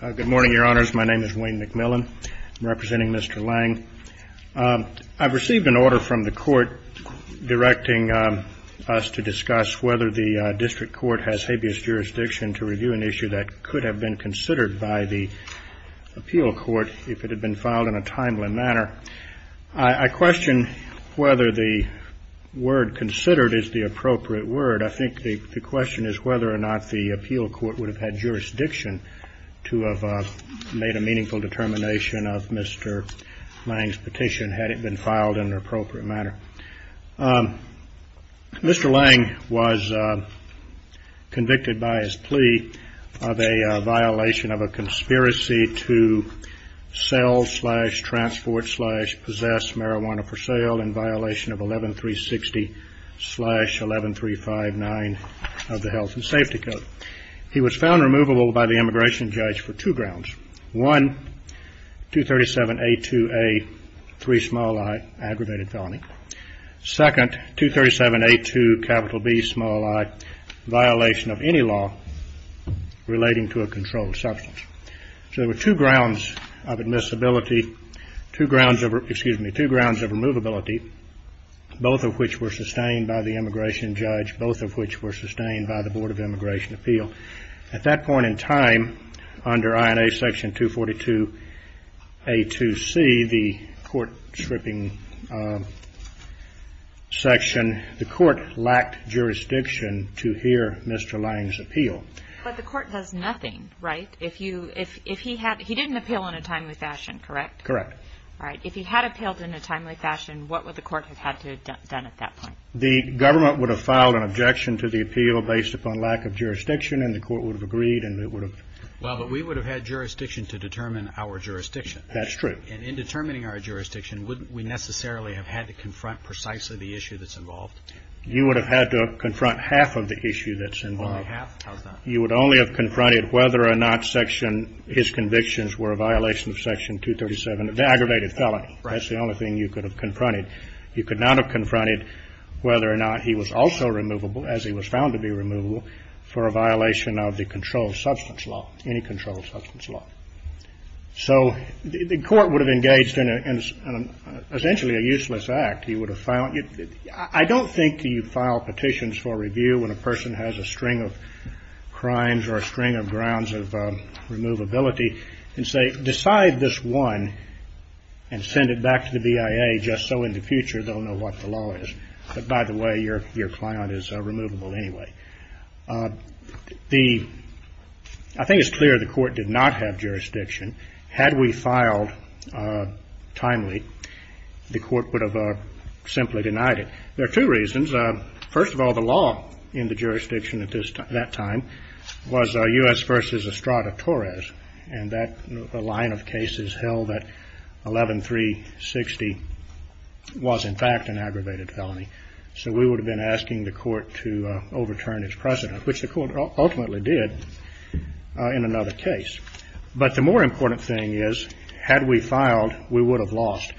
Good morning, Your Honors. My name is Wayne McMillan. I'm representing Mr. Laing. I've received an order from the Court directing us to discuss whether the District Court has habeas jurisdiction to review an issue that could have been considered by the Appeal Court if it had been filed in a timely manner. I question whether the word considered is the appropriate word. I think the question is whether or not the Appeal Court would have jurisdiction to have made a meaningful determination of Mr. Laing's petition had it been filed in an appropriate manner. Mr. Laing was convicted by his plea of a violation of a conspiracy to sell slash transport slash possess marijuana for sale in violation of 11360 slash 11359 of the Health and Safety Code. He was found removable by the immigration judge for two grounds. One, 237A2A3i, aggravated felony. Second, 237A2Bi, violation of any law relating to a controlled substance. So there were two grounds of admissibility, two grounds of, excuse me, two grounds of removability, both of which were sustained by the immigration judge, both of which were sustained by the Board of Immigration Appeal. At that point in time, under INA section 242A2C, the court stripping section, the court lacked jurisdiction to hear Mr. Laing's appeal. But the court does nothing, right? If you, if he had, he didn't appeal in a timely fashion, correct? Correct. Right. If he had appealed in a timely fashion, what would the court have had to have done at that point? The government would have filed an objection to the appeal based upon lack of jurisdiction and the court would have agreed and it would have. Well, but we would have had jurisdiction to determine our jurisdiction. That's true. And in determining our jurisdiction, wouldn't we necessarily have had to confront precisely the issue that's involved? You would have had to confront half of the issue that's involved. Only half? How's that? You would only have confronted whether or not section, his convictions were a violation of section 237, the aggravated felony. That's the only thing you could have confronted. You could not have confronted whether or not he was also removable as he was found to be removable for a violation of the controlled substance law, any controlled substance law. So the court would have engaged in essentially a useless act. He would have filed, I don't think you file petitions for review when a person has a string of crimes or a string of grounds of removability and say, decide this one and send it back to the BIA just so in the future they'll know what the law is. But by the way, your client is removable anyway. The, I think it's clear the court did not have jurisdiction. Had we filed timely, the court would have simply denied it. There are two reasons. First of all, the law in the jurisdiction at that time was U.S. versus Estrada Torres. And that line of cases held at 11-360 was in fact an aggravated felony. So we would have been asking the court to overturn its precedent, which the court ultimately did in another case. But the more important thing is had we filed, we would have lost.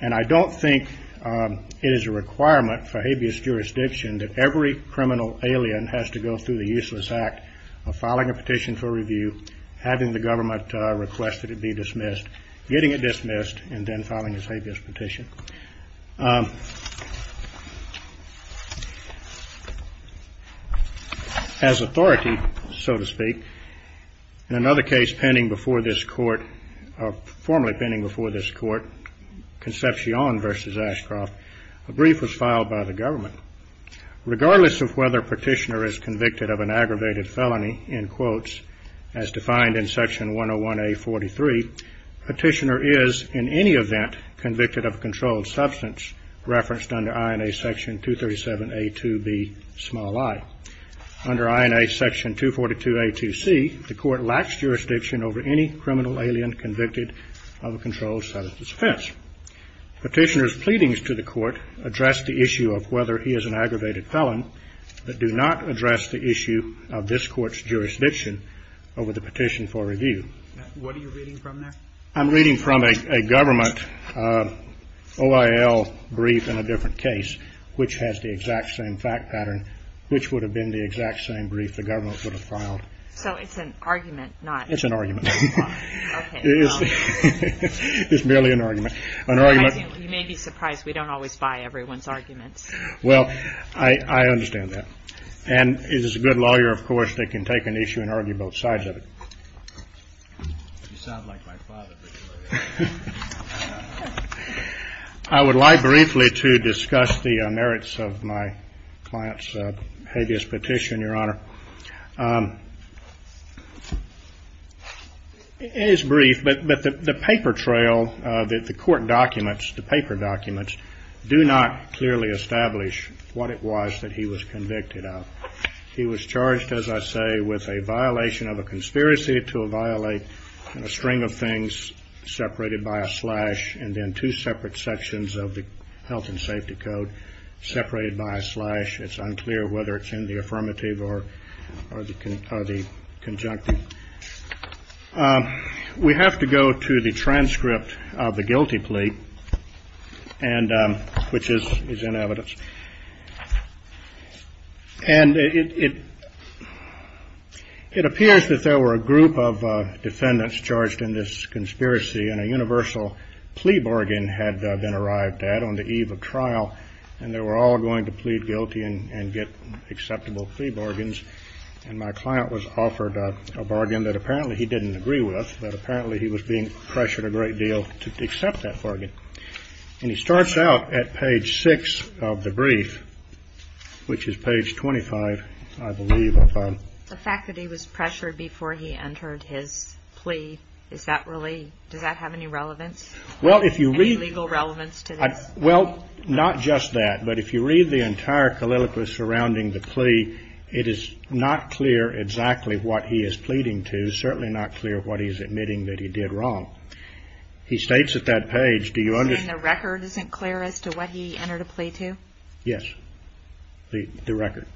And I don't think it is a requirement for habeas jurisdiction that every criminal alien has to go through the useless act of filing a petition for review, having the government request that it be dismissed, getting it dismissed, and then filing a habeas petition. As authority, so to speak, in another case pending before this court, formerly pending before this court, Concepcion versus Ashcroft, a brief was filed by the government. Regardless of whether Petitioner is convicted of an aggravated felony, in quotes, as defined in Section 101A.43, Petitioner is, in any event, convicted of a controlled substance referenced under INA Section 237A.2b, small i. Under INA Section 242A.2c, the court lacks jurisdiction over any criminal alien convicted of a controlled substance offense. Petitioner's pleadings to the court address the issue of whether he is an aggravated felon, but do not address the issue of this court's jurisdiction over the petition for review. What are you reading from there? I'm reading from a government OIL brief in a different case, which has the exact same fact pattern, which would have been the exact same brief the government would have filed. So it's an argument, not... It's an argument. Okay. It's merely an argument. An argument... I don't always buy everyone's arguments. Well, I understand that. And if it's a good lawyer, of course, they can take an issue and argue both sides of it. You sound like my father. I would like briefly to discuss the merits of my client's hideous petition, Your Honor. It is brief, but the paper trail, the court documents, the paper documents, do not clearly establish what it was that he was convicted of. He was charged, as I say, with a violation of a conspiracy to violate a string of things separated by a slash, and then two separate sections of the Health and Safety Code separated by a slash. It's unclear whether it's in the statute or the conjunctive. We have to go to the transcript of the guilty plea, which is in evidence. And it appears that there were a group of defendants charged in this conspiracy, and a universal plea bargain had been arrived at on the eve of trial, and they were all going to plead guilty and get acceptable plea bargains. And my client was offered a bargain that apparently he didn't agree with, but apparently he was being pressured a great deal to accept that bargain. And he starts out at page 6 of the brief, which is page 25, I believe, I found. The fact that he was pressured before he entered his plea, is that really, does that have any relevance, any legal relevance to this? Well, not just that, but if you read the entire calliloquy surrounding the plea, it is not clear exactly what he is pleading to, certainly not clear what he is admitting that he did wrong. He states at that page, do you understand? You're saying the record isn't clear as to what he entered a plea to? Yes, the record.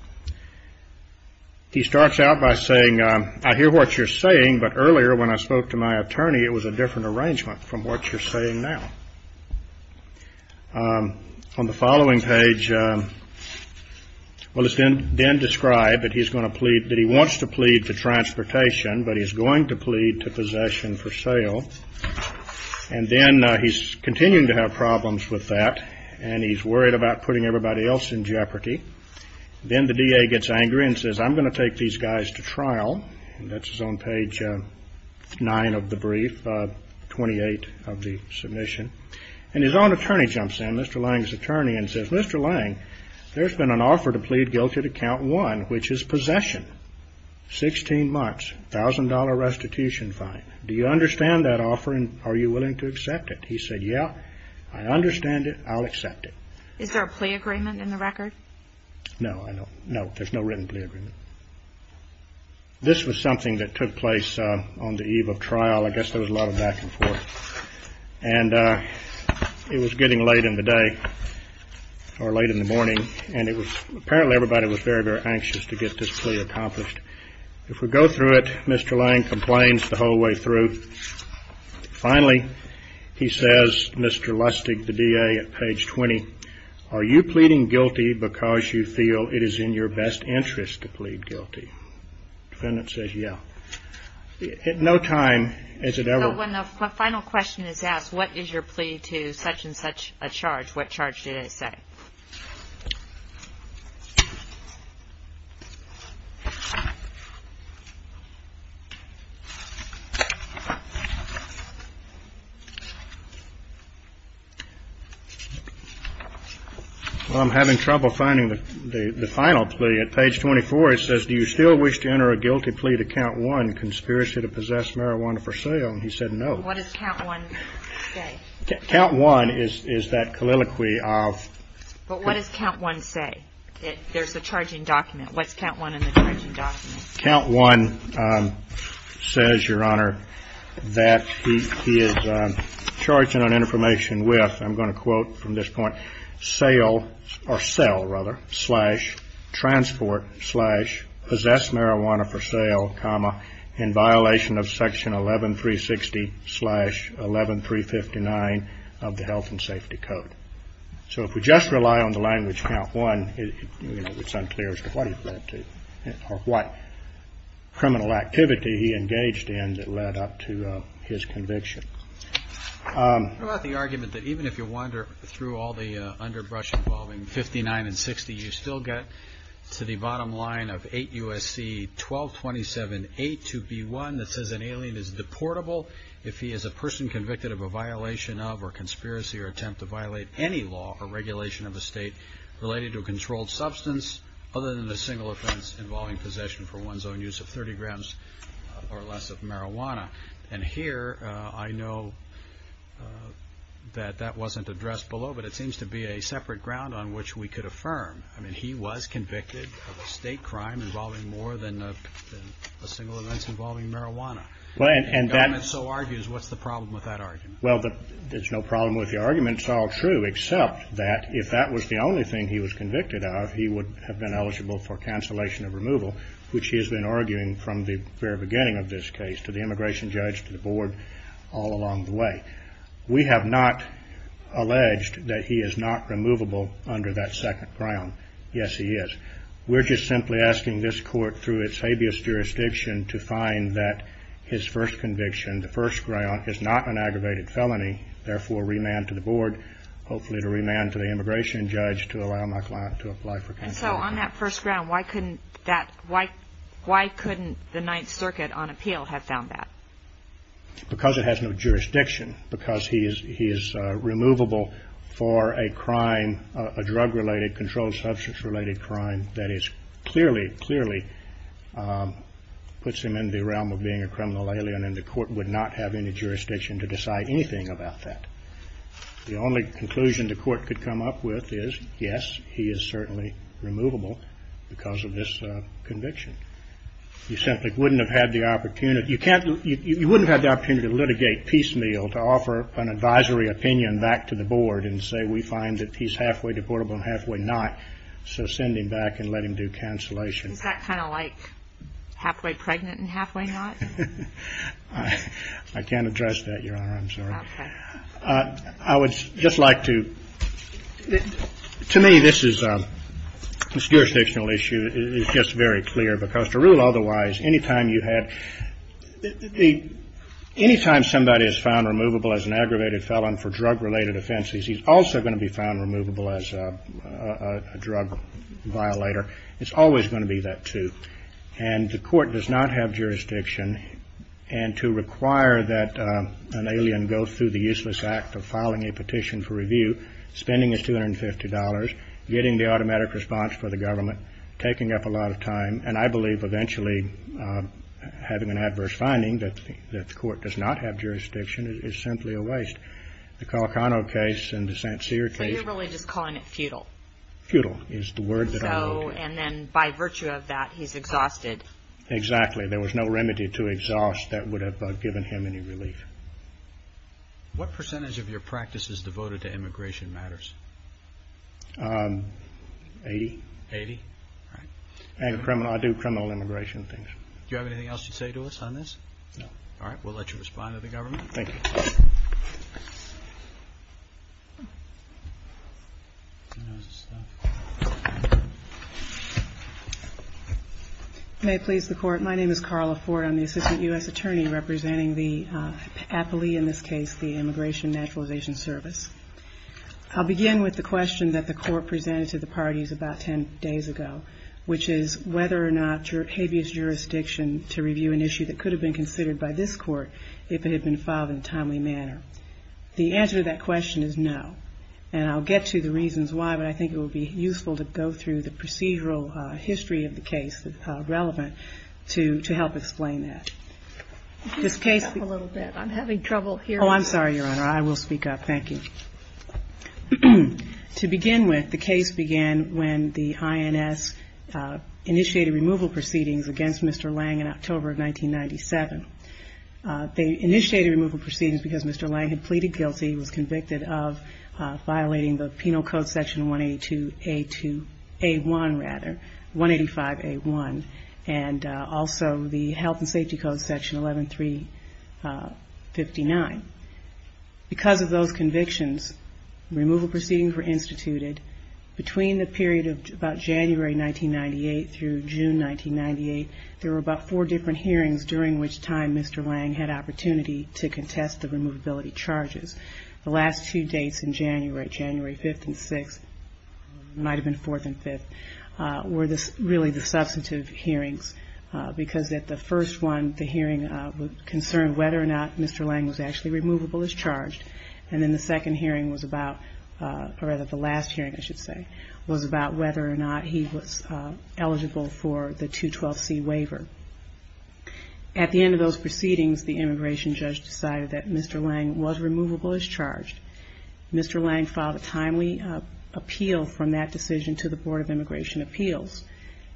He starts out by saying, I hear what you're saying, but earlier when I spoke to my attorney, it was a different arrangement from what you're saying now. On the following page, well, it's then described that he's going to plead, that he wants to plead to transportation, but he's going to plead to possession for sale. And then he's continuing to have problems with that, and he's worried about putting everybody else in jeopardy. Then the DA gets angry and says, I'm going to take these guys to trial, and that's on page 9 of the brief, 28 of the submission, and his own attorney jumps in, Mr. Lang's attorney, and says, Mr. Lang, there's been an offer to plead guilty to count 1, which is possession, 16 months, $1,000 restitution fine. Do you understand that offer, and are you willing to accept it? He said, yeah, I understand it, I'll accept it. Is there a plea agreement in the record? No, I don't, no, there's no written plea agreement. This was something that took place on the eve of trial, I guess there was a lot of back and forth, and it was getting late in the day, or late in the morning, and apparently everybody was very, very anxious to get this plea accomplished. If we go through it, Mr. Lang complains the whole way through. Finally, he says, Mr. Lustig, the DA, at page 20, are you pleading guilty because you feel it is in your best interest to plead guilty? The defendant says, yeah. At no time has it ever... When the final question is asked, what is your plea to such and such a charge, what charge did it say? Well, I'm having trouble finding the final plea. At page 24, it says, do you still wish to enter a guilty plea to count one, conspiracy to possess marijuana for sale, and he said no. What does count one say? Count one is that colloquy of... But what does count one say? There's a charging document. What's count one in the charging document? Count one says, Your Honor, that he is charging on information with, I'm going to quote from this point, sale, or sell rather, slash transport slash possess marijuana for sale comma in violation of section 11360 slash 11359 of the health and safety code. So if we just rely on the language count one, it's unclear as to what it led to, or what criminal activity he engaged in that led up to his conviction. What about the argument that even if you wander through all the underbrush involving 59 and 60, you still get to the bottom line of 8 U.S.C. 1227A2B1 that says an alien is deportable if he is a person convicted of a violation of or conspiracy or attempt to violate any law or regulation of a state related to a controlled substance other than a single offense involving possession for one's own use of 30 grams or less of marijuana. And here, I know that that wasn't addressed below, but it seems to be a separate ground on which we could affirm. I mean, he was convicted of a state crime involving more than a single offense involving marijuana. And the government so argues, what's the problem with that argument? Well, there's no problem with the argument. It's all true, except that if that was the only thing he was convicted of, he would have been eligible for cancellation of removal, which he has been arguing from the very beginning of this case, to the immigration judge, to the board, all along the way. We have not alleged that he is not removable under that second ground. Yes, he is. We're just simply asking this court, through its habeas jurisdiction, to find that his first conviction, the first ground, is not an aggravated felony. Therefore, remand to the board, hopefully to remand to the immigration judge, to allow my client to apply for cancellation. And so, on that first ground, why couldn't the Ninth Circuit, on appeal, have found that? Because it has no jurisdiction. Because he is removable for a crime, a drug-related, controlled substance-related crime, that is clearly, clearly puts him in the realm of being a criminal alien, and the court would not have any jurisdiction to decide anything about that. The only conclusion the court could come up with is, yes, he is certainly removable because of this conviction. You simply wouldn't have had the opportunity, you can't, you wouldn't have had the opportunity to litigate piecemeal, to offer an advisory opinion back to the board and say, we find that he's halfway deportable and halfway not, so send him back and let him do cancellation. Is that kind of like halfway pregnant and halfway not? I can't address that, Your Honor, I'm sorry. I would just like to, to me, this is a jurisdictional issue, it's just very clear, because to rule otherwise, any time you had, any time somebody is found removable as an aggravated felon for drug-related offenses, he's also going to be found removable as a drug violator. It's always going to be that too, and the court does not have jurisdiction, and to require that an alien go through the useless act of filing a petition for review, spending his $250, getting the automatic response for the government, taking up a lot of time, and I believe eventually having an adverse finding that the court does not have jurisdiction is simply a waste. The Calcano case and the St. Cyr case... So you're really just calling it futile? Futile is the word that I wrote. So, and then by virtue of that, he's exhausted. Exactly, there was no remedy to exhaust that would have given him any relief. What percentage of your practice is devoted to immigration matters? 80. 80? Right. And criminal, I do criminal immigration things. Do you have anything else to say to us on this? No. All right, we'll let you respond to the government. Thank you. May it please the court. My name is Carla Ford. I'm the Assistant U.S. Attorney representing the, aptly in this case, the Immigration Naturalization Service. I'll begin with the question that the court presented to the parties about 10 days ago, which is whether or not habeas jurisdiction to review an issue that could have been considered by this court if it had been filed in a timely manner. The answer to that question is no. And I'll get to the reasons why, but I think it would be useful to go through the procedural history of the case that's relevant to help explain that. This case... Can you speak up a little bit? I'm having trouble hearing you. Oh, I'm sorry, Your Honor. I will speak up. Thank you. To begin with, the case began when the INS initiated removal proceedings against Mr. Lang in October of 1997. They initiated removal proceedings because Mr. Lang had pleaded guilty, was convicted of violating the Penal Code Section 182A1, rather, 185A1, and also the Health and Safety Code Section 11359. Because of those convictions, removal proceedings were instituted. Between the period of about January 1998 through June 1998, there were about four different hearings during which time Mr. Lang had opportunity to contest the removability charges. The last two dates in January, January 5th and 6th, or it might have been 4th and 5th, were really the substantive hearings, because at the first one, the hearing concerned whether or not Mr. Lang was actually removable as charged. And then the second hearing was about, or rather the last hearing, I should say, was about whether or not he was eligible for the 212C waiver. At the end of those proceedings, the immigration judge decided that Mr. Lang was removable as charged. Mr. Lang filed a timely appeal from that decision to the Board of Immigration Appeals.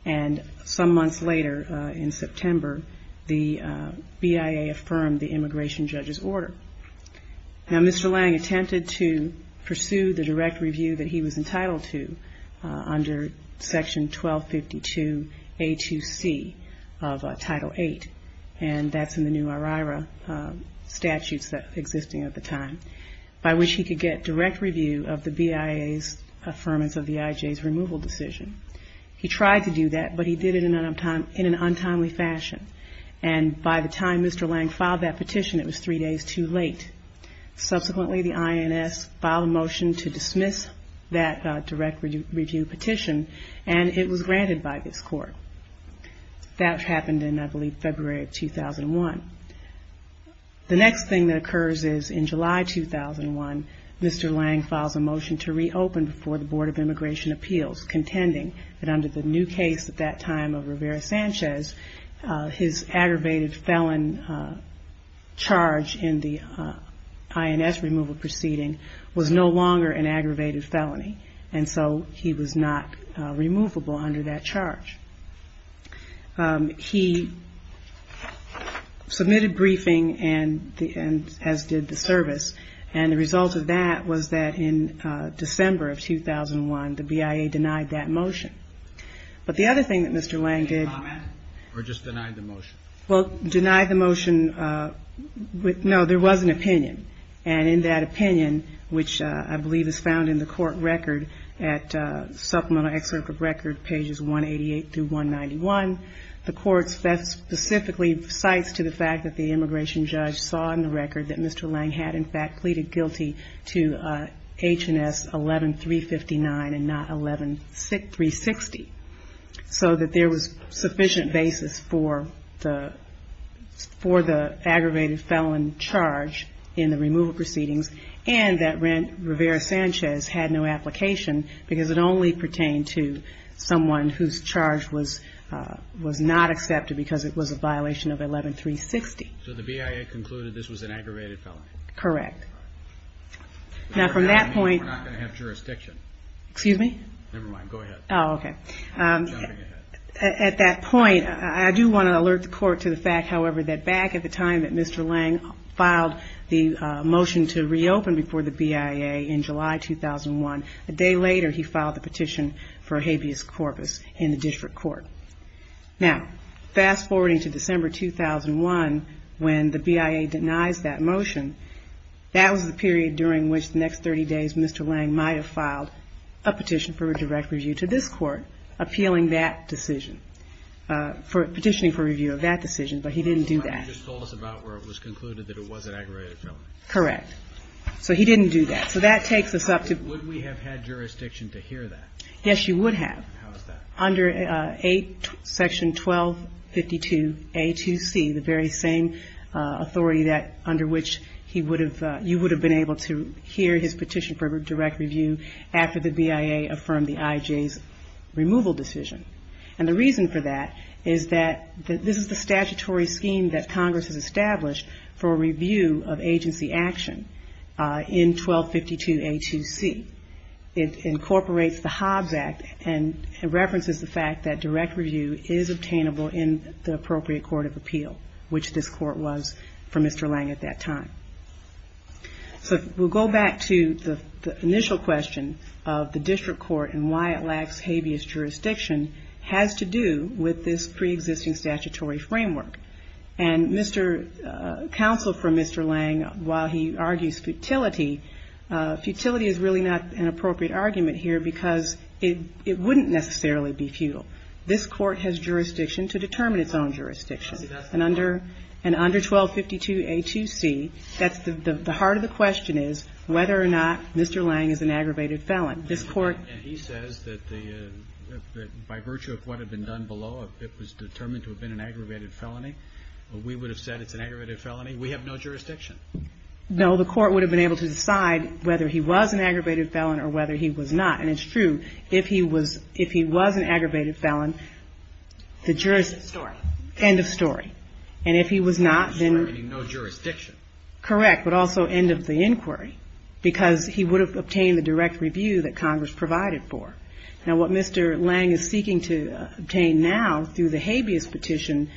And some months later, in September, the BIA affirmed the immigration judge's order. Now, Mr. Lang attempted to pursue the direct review that he was entitled to under Section 1252A2C of Title VIII, and that's in the new OIRA statutes that were existing at the time, by which he could get direct review of the BIA's affirmance of the IJ's removal decision. He tried to do that, but he did it in an untimely fashion. And by the time Mr. Lang filed that petition, it was three days too late. Subsequently, the INS filed a motion to dismiss that direct review petition, and it was granted by this court. That happened in, I believe, February of 2001. The next thing that occurs is in July 2001, Mr. Lang files a motion to reopen before the Board of Immigration Appeals, contending that under the new case at that time of Rivera-Sanchez, his aggravated felon charge in the INS removal proceeding was no longer an aggravated felony, and so he was not removable under that charge. He submitted briefing, as did the service, and the result of that was that in December of 2001, the BIA denied that motion. But the other thing that Mr. Lang did... Or just denied the motion. Well, denied the motion, no, there was an opinion, and in that opinion, which I believe is found in the court record at Supplemental Excerpt of Record, pages 188 through 191, the court specifically cites to the fact that the immigration judge saw in the record that Mr. Lang had, in fact, pleaded guilty to H&S 11359 and not 11369. So that there was sufficient basis for the aggravated felon charge in the removal proceedings, and that Rivera-Sanchez had no application, because it only pertained to someone whose charge was not accepted because it was a violation of 11360. So the BIA concluded this was an aggravated felony? Correct. Now, from that point... We're not going to have jurisdiction. Excuse me? Never mind, go ahead. Oh, okay. Jumping ahead. At that point, I do want to alert the court to the fact, however, that back at the time that Mr. Lang filed the motion to reopen before the BIA in July 2001, a day later he filed the petition for habeas corpus in the district court. Now, fast-forwarding to December 2001, when the BIA denies that motion, that was the period during which the next 30 days, Mr. Lang might have filed a petition for a direct review to this court, appealing that decision, petitioning for review of that decision, but he didn't do that. He just told us about where it was concluded that it was an aggravated felony. Correct. So he didn't do that. So that takes us up to... Would we have had jurisdiction to hear that? Yes, you would have. How is that? Under Section 1252A2C, the very same authority that under which you would have been able to hear his petition for direct review after the BIA affirmed the IJ's removal decision. And the reason for that is that this is the statutory scheme that Congress has established for review of agency action in 1252A2C. It incorporates the Hobbs Act and references the fact that direct review is obtainable in the appropriate court of appeal, which this court was for Mr. Lang at that time. So we'll go back to the initial question of the district court and why it lacks habeas jurisdiction has to do with this preexisting statutory framework. And counsel for Mr. Lang, while he argues futility, futility is really not an appropriate argument here because it wouldn't necessarily be futile. This court has jurisdiction to determine its own jurisdiction. And under 1252A2C, the heart of the question is whether or not Mr. Lang is an aggravated felon. This court And he says that by virtue of what had been done below, it was determined to have been an aggravated felony. We would have said it's an aggravated felony. We have no jurisdiction. No, the court would have been able to decide whether he was an aggravated felon or whether he was not. And it's true. If he was, if he was an aggravated felon, the jurist, end of story. And if he was not, then no jurisdiction, correct, but also end of the inquiry because he would have obtained the direct review that Congress provided for. Now what Mr. Lang is seeking to obtain now through the habeas petition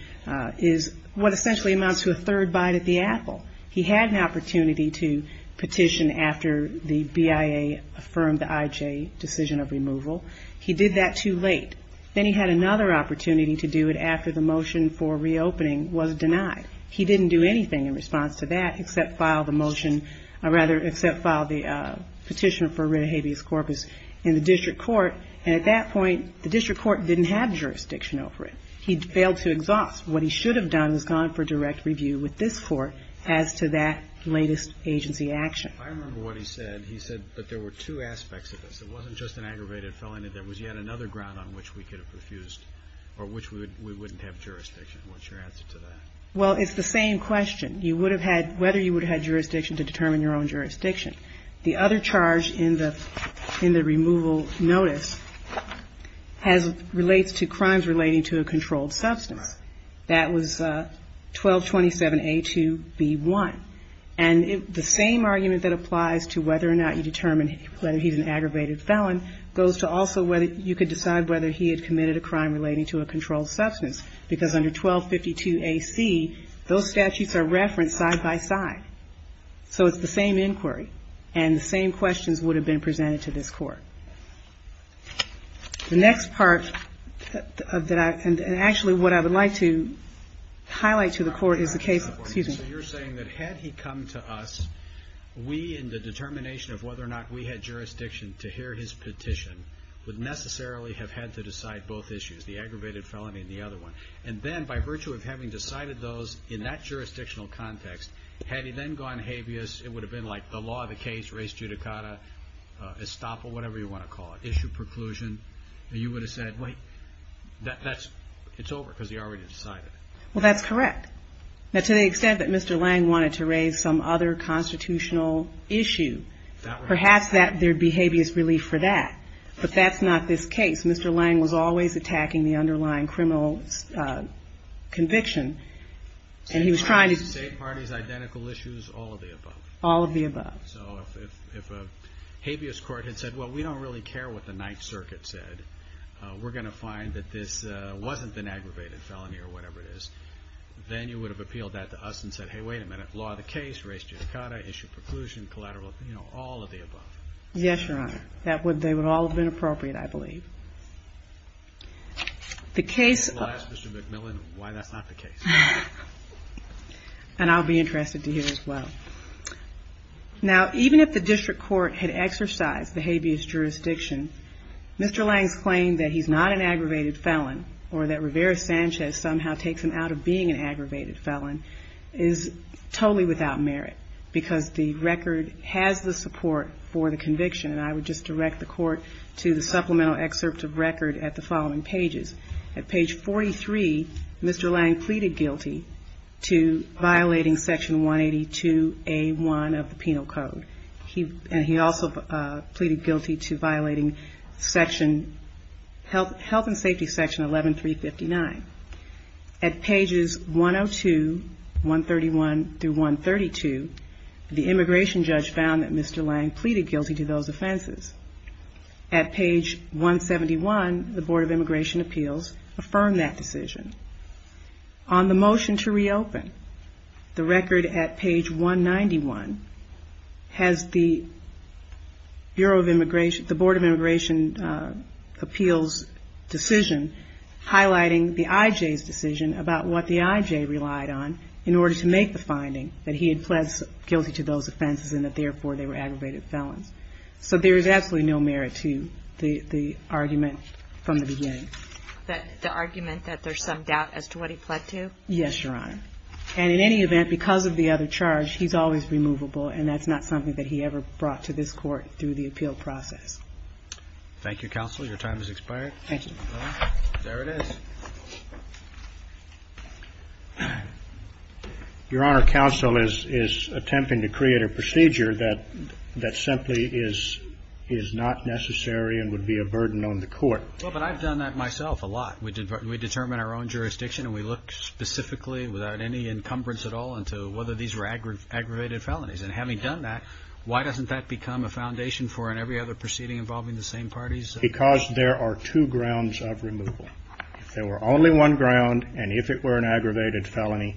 is what essentially amounts to a third bite at the apple. He had an opportunity to petition after the BIA affirmed the IJ decision of removal. He did that too late. Then he had another opportunity to do it after the motion for reopening was denied. He didn't do anything in response to that except file the motion, or rather, except file the petition for writ of habeas corpus in the district court. And at that point, the district court didn't have jurisdiction over it. He failed to exhaust. What he should have done is gone for direct review with this court as to that latest agency action. I remember what he said. He said that there were two aspects of this. It wasn't just an aggravated felon. That there was yet another ground on which we could have refused or which we would, we wouldn't have jurisdiction. What's your answer to that? Well, it's the same question. You would have had, whether you would have had jurisdiction to determine your own jurisdiction. The other charge in the, in the removal notice has, relates to crimes relating to a controlled substance. That was 1227A2B1. And the same argument that applies to whether or not you determine whether he's an aggravated felon goes to also whether you could decide whether he had committed a crime relating to a controlled substance. Because under 1252AC, those statutes are referenced side by side. So it's the same inquiry. And the same questions would have been presented to this court. The next part that I, and actually what I would like to highlight to the court is the case, excuse me. So you're saying that had he come to us, we in the determination of whether or not we had jurisdiction to hear his petition would necessarily have had to decide both issues, the aggravated felony and the other one. And then by virtue of having decided those in that jurisdictional context, had he then gone habeas, it would have been like the law of the case, res judicata, estoppel, whatever you want to call it, issue preclusion. And you would have said, wait, that's, it's over because he already decided. Well, that's correct. Now, to the extent that Mr. Lang wanted to raise some other constitutional issue, perhaps that there'd be habeas relief for that, but that's not this case. Mr. Lang was always attacking the underlying criminal conviction and he was trying to. All of the above. So if a habeas court had said, well, we don't really care what the Ninth Circuit said, we're going to find that this wasn't an aggravated felony or whatever it is. Then you would have appealed that to us and said, Hey, wait a minute. Law of the case, res judicata, issue preclusion, collateral, you know, all of the above. Yes, Your Honor. That would, they would all have been appropriate, I believe. The case. I'll ask Mr. McMillan why that's not the case. And I'll be interested to hear as well. Okay. Now, even if the district court had exercised the habeas jurisdiction, Mr. Lang's claim that he's not an aggravated felon or that Rivera Sanchez somehow takes him out of being an aggravated felon is totally without merit because the record has the support for the conviction. And I would just direct the court to the supplemental excerpt of record at the following pages. At page 43, Mr. Lang pleaded guilty to violating section 182A1 of the Penal Code. He, and he also pleaded guilty to violating section health, health and safety section 11359. At pages 102, 131 through 132, the immigration judge found that Mr. Lang pleaded guilty to those offenses. At page 171, the board of immigration appeals affirmed that decision. On the motion to reopen the record at page 191 has the Bureau of immigration, the board of immigration appeals decision, highlighting the IJ's decision about what the IJ relied on in order to make the finding that he had pledged guilty to those offenses and that therefore they were aggravated felons. So there is absolutely no merit to the, the argument from the beginning. That the argument that there's some doubt as to what he pledged to. Yes, Your Honor. And in any event, because of the other charge, he's always removable and that's not something that he ever brought to this court through the appeal process. Thank you, counsel. Your time has expired. Thank you. There it is. Your Honor, counsel is, is attempting to create a procedure that, that simply is, is not necessary and would be a burden on the court. Well, but I've done that myself a lot. We did, we determined our own jurisdiction and we looked specifically without any encumbrance at all into whether these were aggravated felonies. And having done that, why doesn't that become a foundation for in every other proceeding involving the same parties? Because there are two grounds of removal. If there were only one ground and if it were an aggravated felony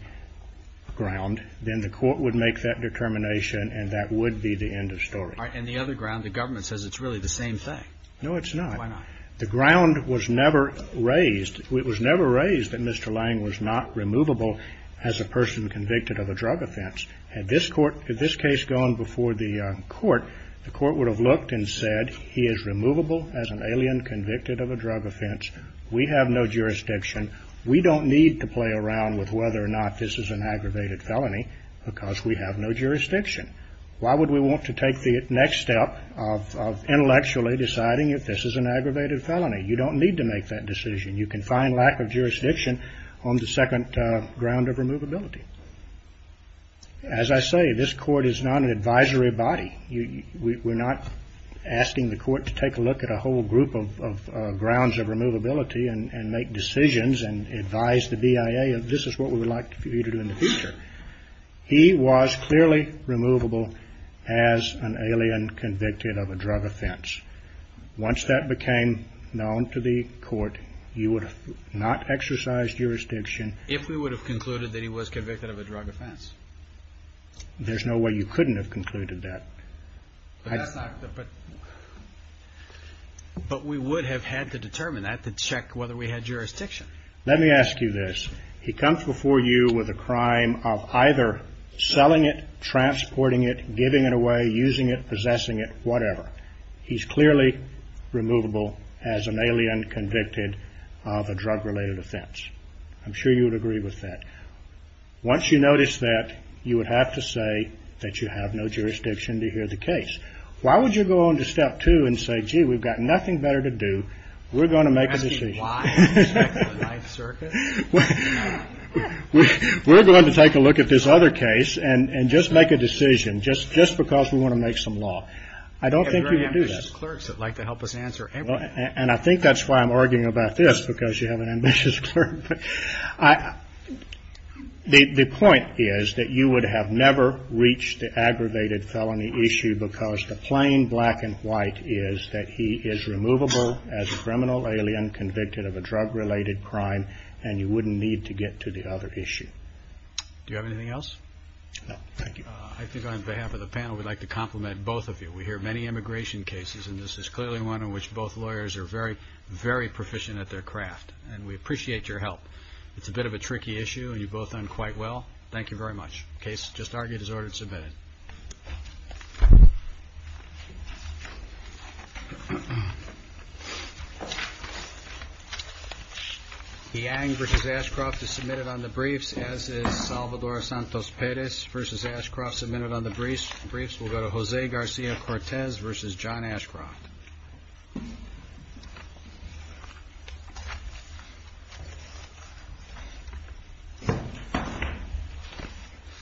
ground, then the court would make that determination and that would be the end of story. All right. And the other ground, the government says it's really the same thing. No, it's not. Why not? The ground was never raised. It was never raised that Mr. Lange was not removable as a person convicted of a drug offense. Had this court, had this case gone before the court, the court would have looked and said, he is removable as an alien convicted of a drug offense. We have no jurisdiction. We don't need to play around with whether or not this is an aggravated felony because we have no jurisdiction. Why would we want to take the next step of intellectually deciding if this is an aggravated felony? You don't need to make that decision. You can find lack of jurisdiction on the second ground of removability. As I say, this court is not an advisory body. We're not asking the court to take a look at a whole group of grounds of removability and make decisions and advise the BIA of this is what we would like for you to do in the future. He was clearly removable as an alien convicted of a drug offense. Once that became known to the court, you would have not exercised jurisdiction. If we would have concluded that he was convicted of a drug offense. There's no way you couldn't have concluded that. That's not the, but, but we would have had to determine that to check whether we had jurisdiction. Let me ask you this. He comes before you with a crime of either selling it, transporting it, giving it away, using it, possessing it, whatever. He's clearly removable as an alien convicted of a drug related offense. I'm sure you would agree with that. Once you notice that you would have to say that you have no jurisdiction to hear the case, why would you go on to step two and say, gee, we've got nothing better to do. We're going to make a decision. We're going to take a look at this other case and just make a decision just, just because we want to make some law. I don't think you would do that. Ambitious clerks that like to help us answer. And I think that's why I'm arguing about this because you have an ambitious clerk, but I, the point is that you would have never reached the aggravated felony issue because the plain black and white is that he is removable as a criminal alien convicted of a drug related crime and you wouldn't need to get to the other issue. Do you have anything else? No, thank you. I think on behalf of the panel, we'd like to compliment both of you. We hear many immigration cases, and this is clearly one in which both lawyers are very, very proficient at their craft and we appreciate your help. It's a bit of a tricky issue and you both done quite well. Thank you very much. Case just argued as ordered submitted. Okay. He angered his Ashcroft to submit it on the briefs as is Salvador Santos Paris versus Ashcroft submitted on the briefs briefs. We'll go to Jose Garcia, Cortez versus John Ashcroft.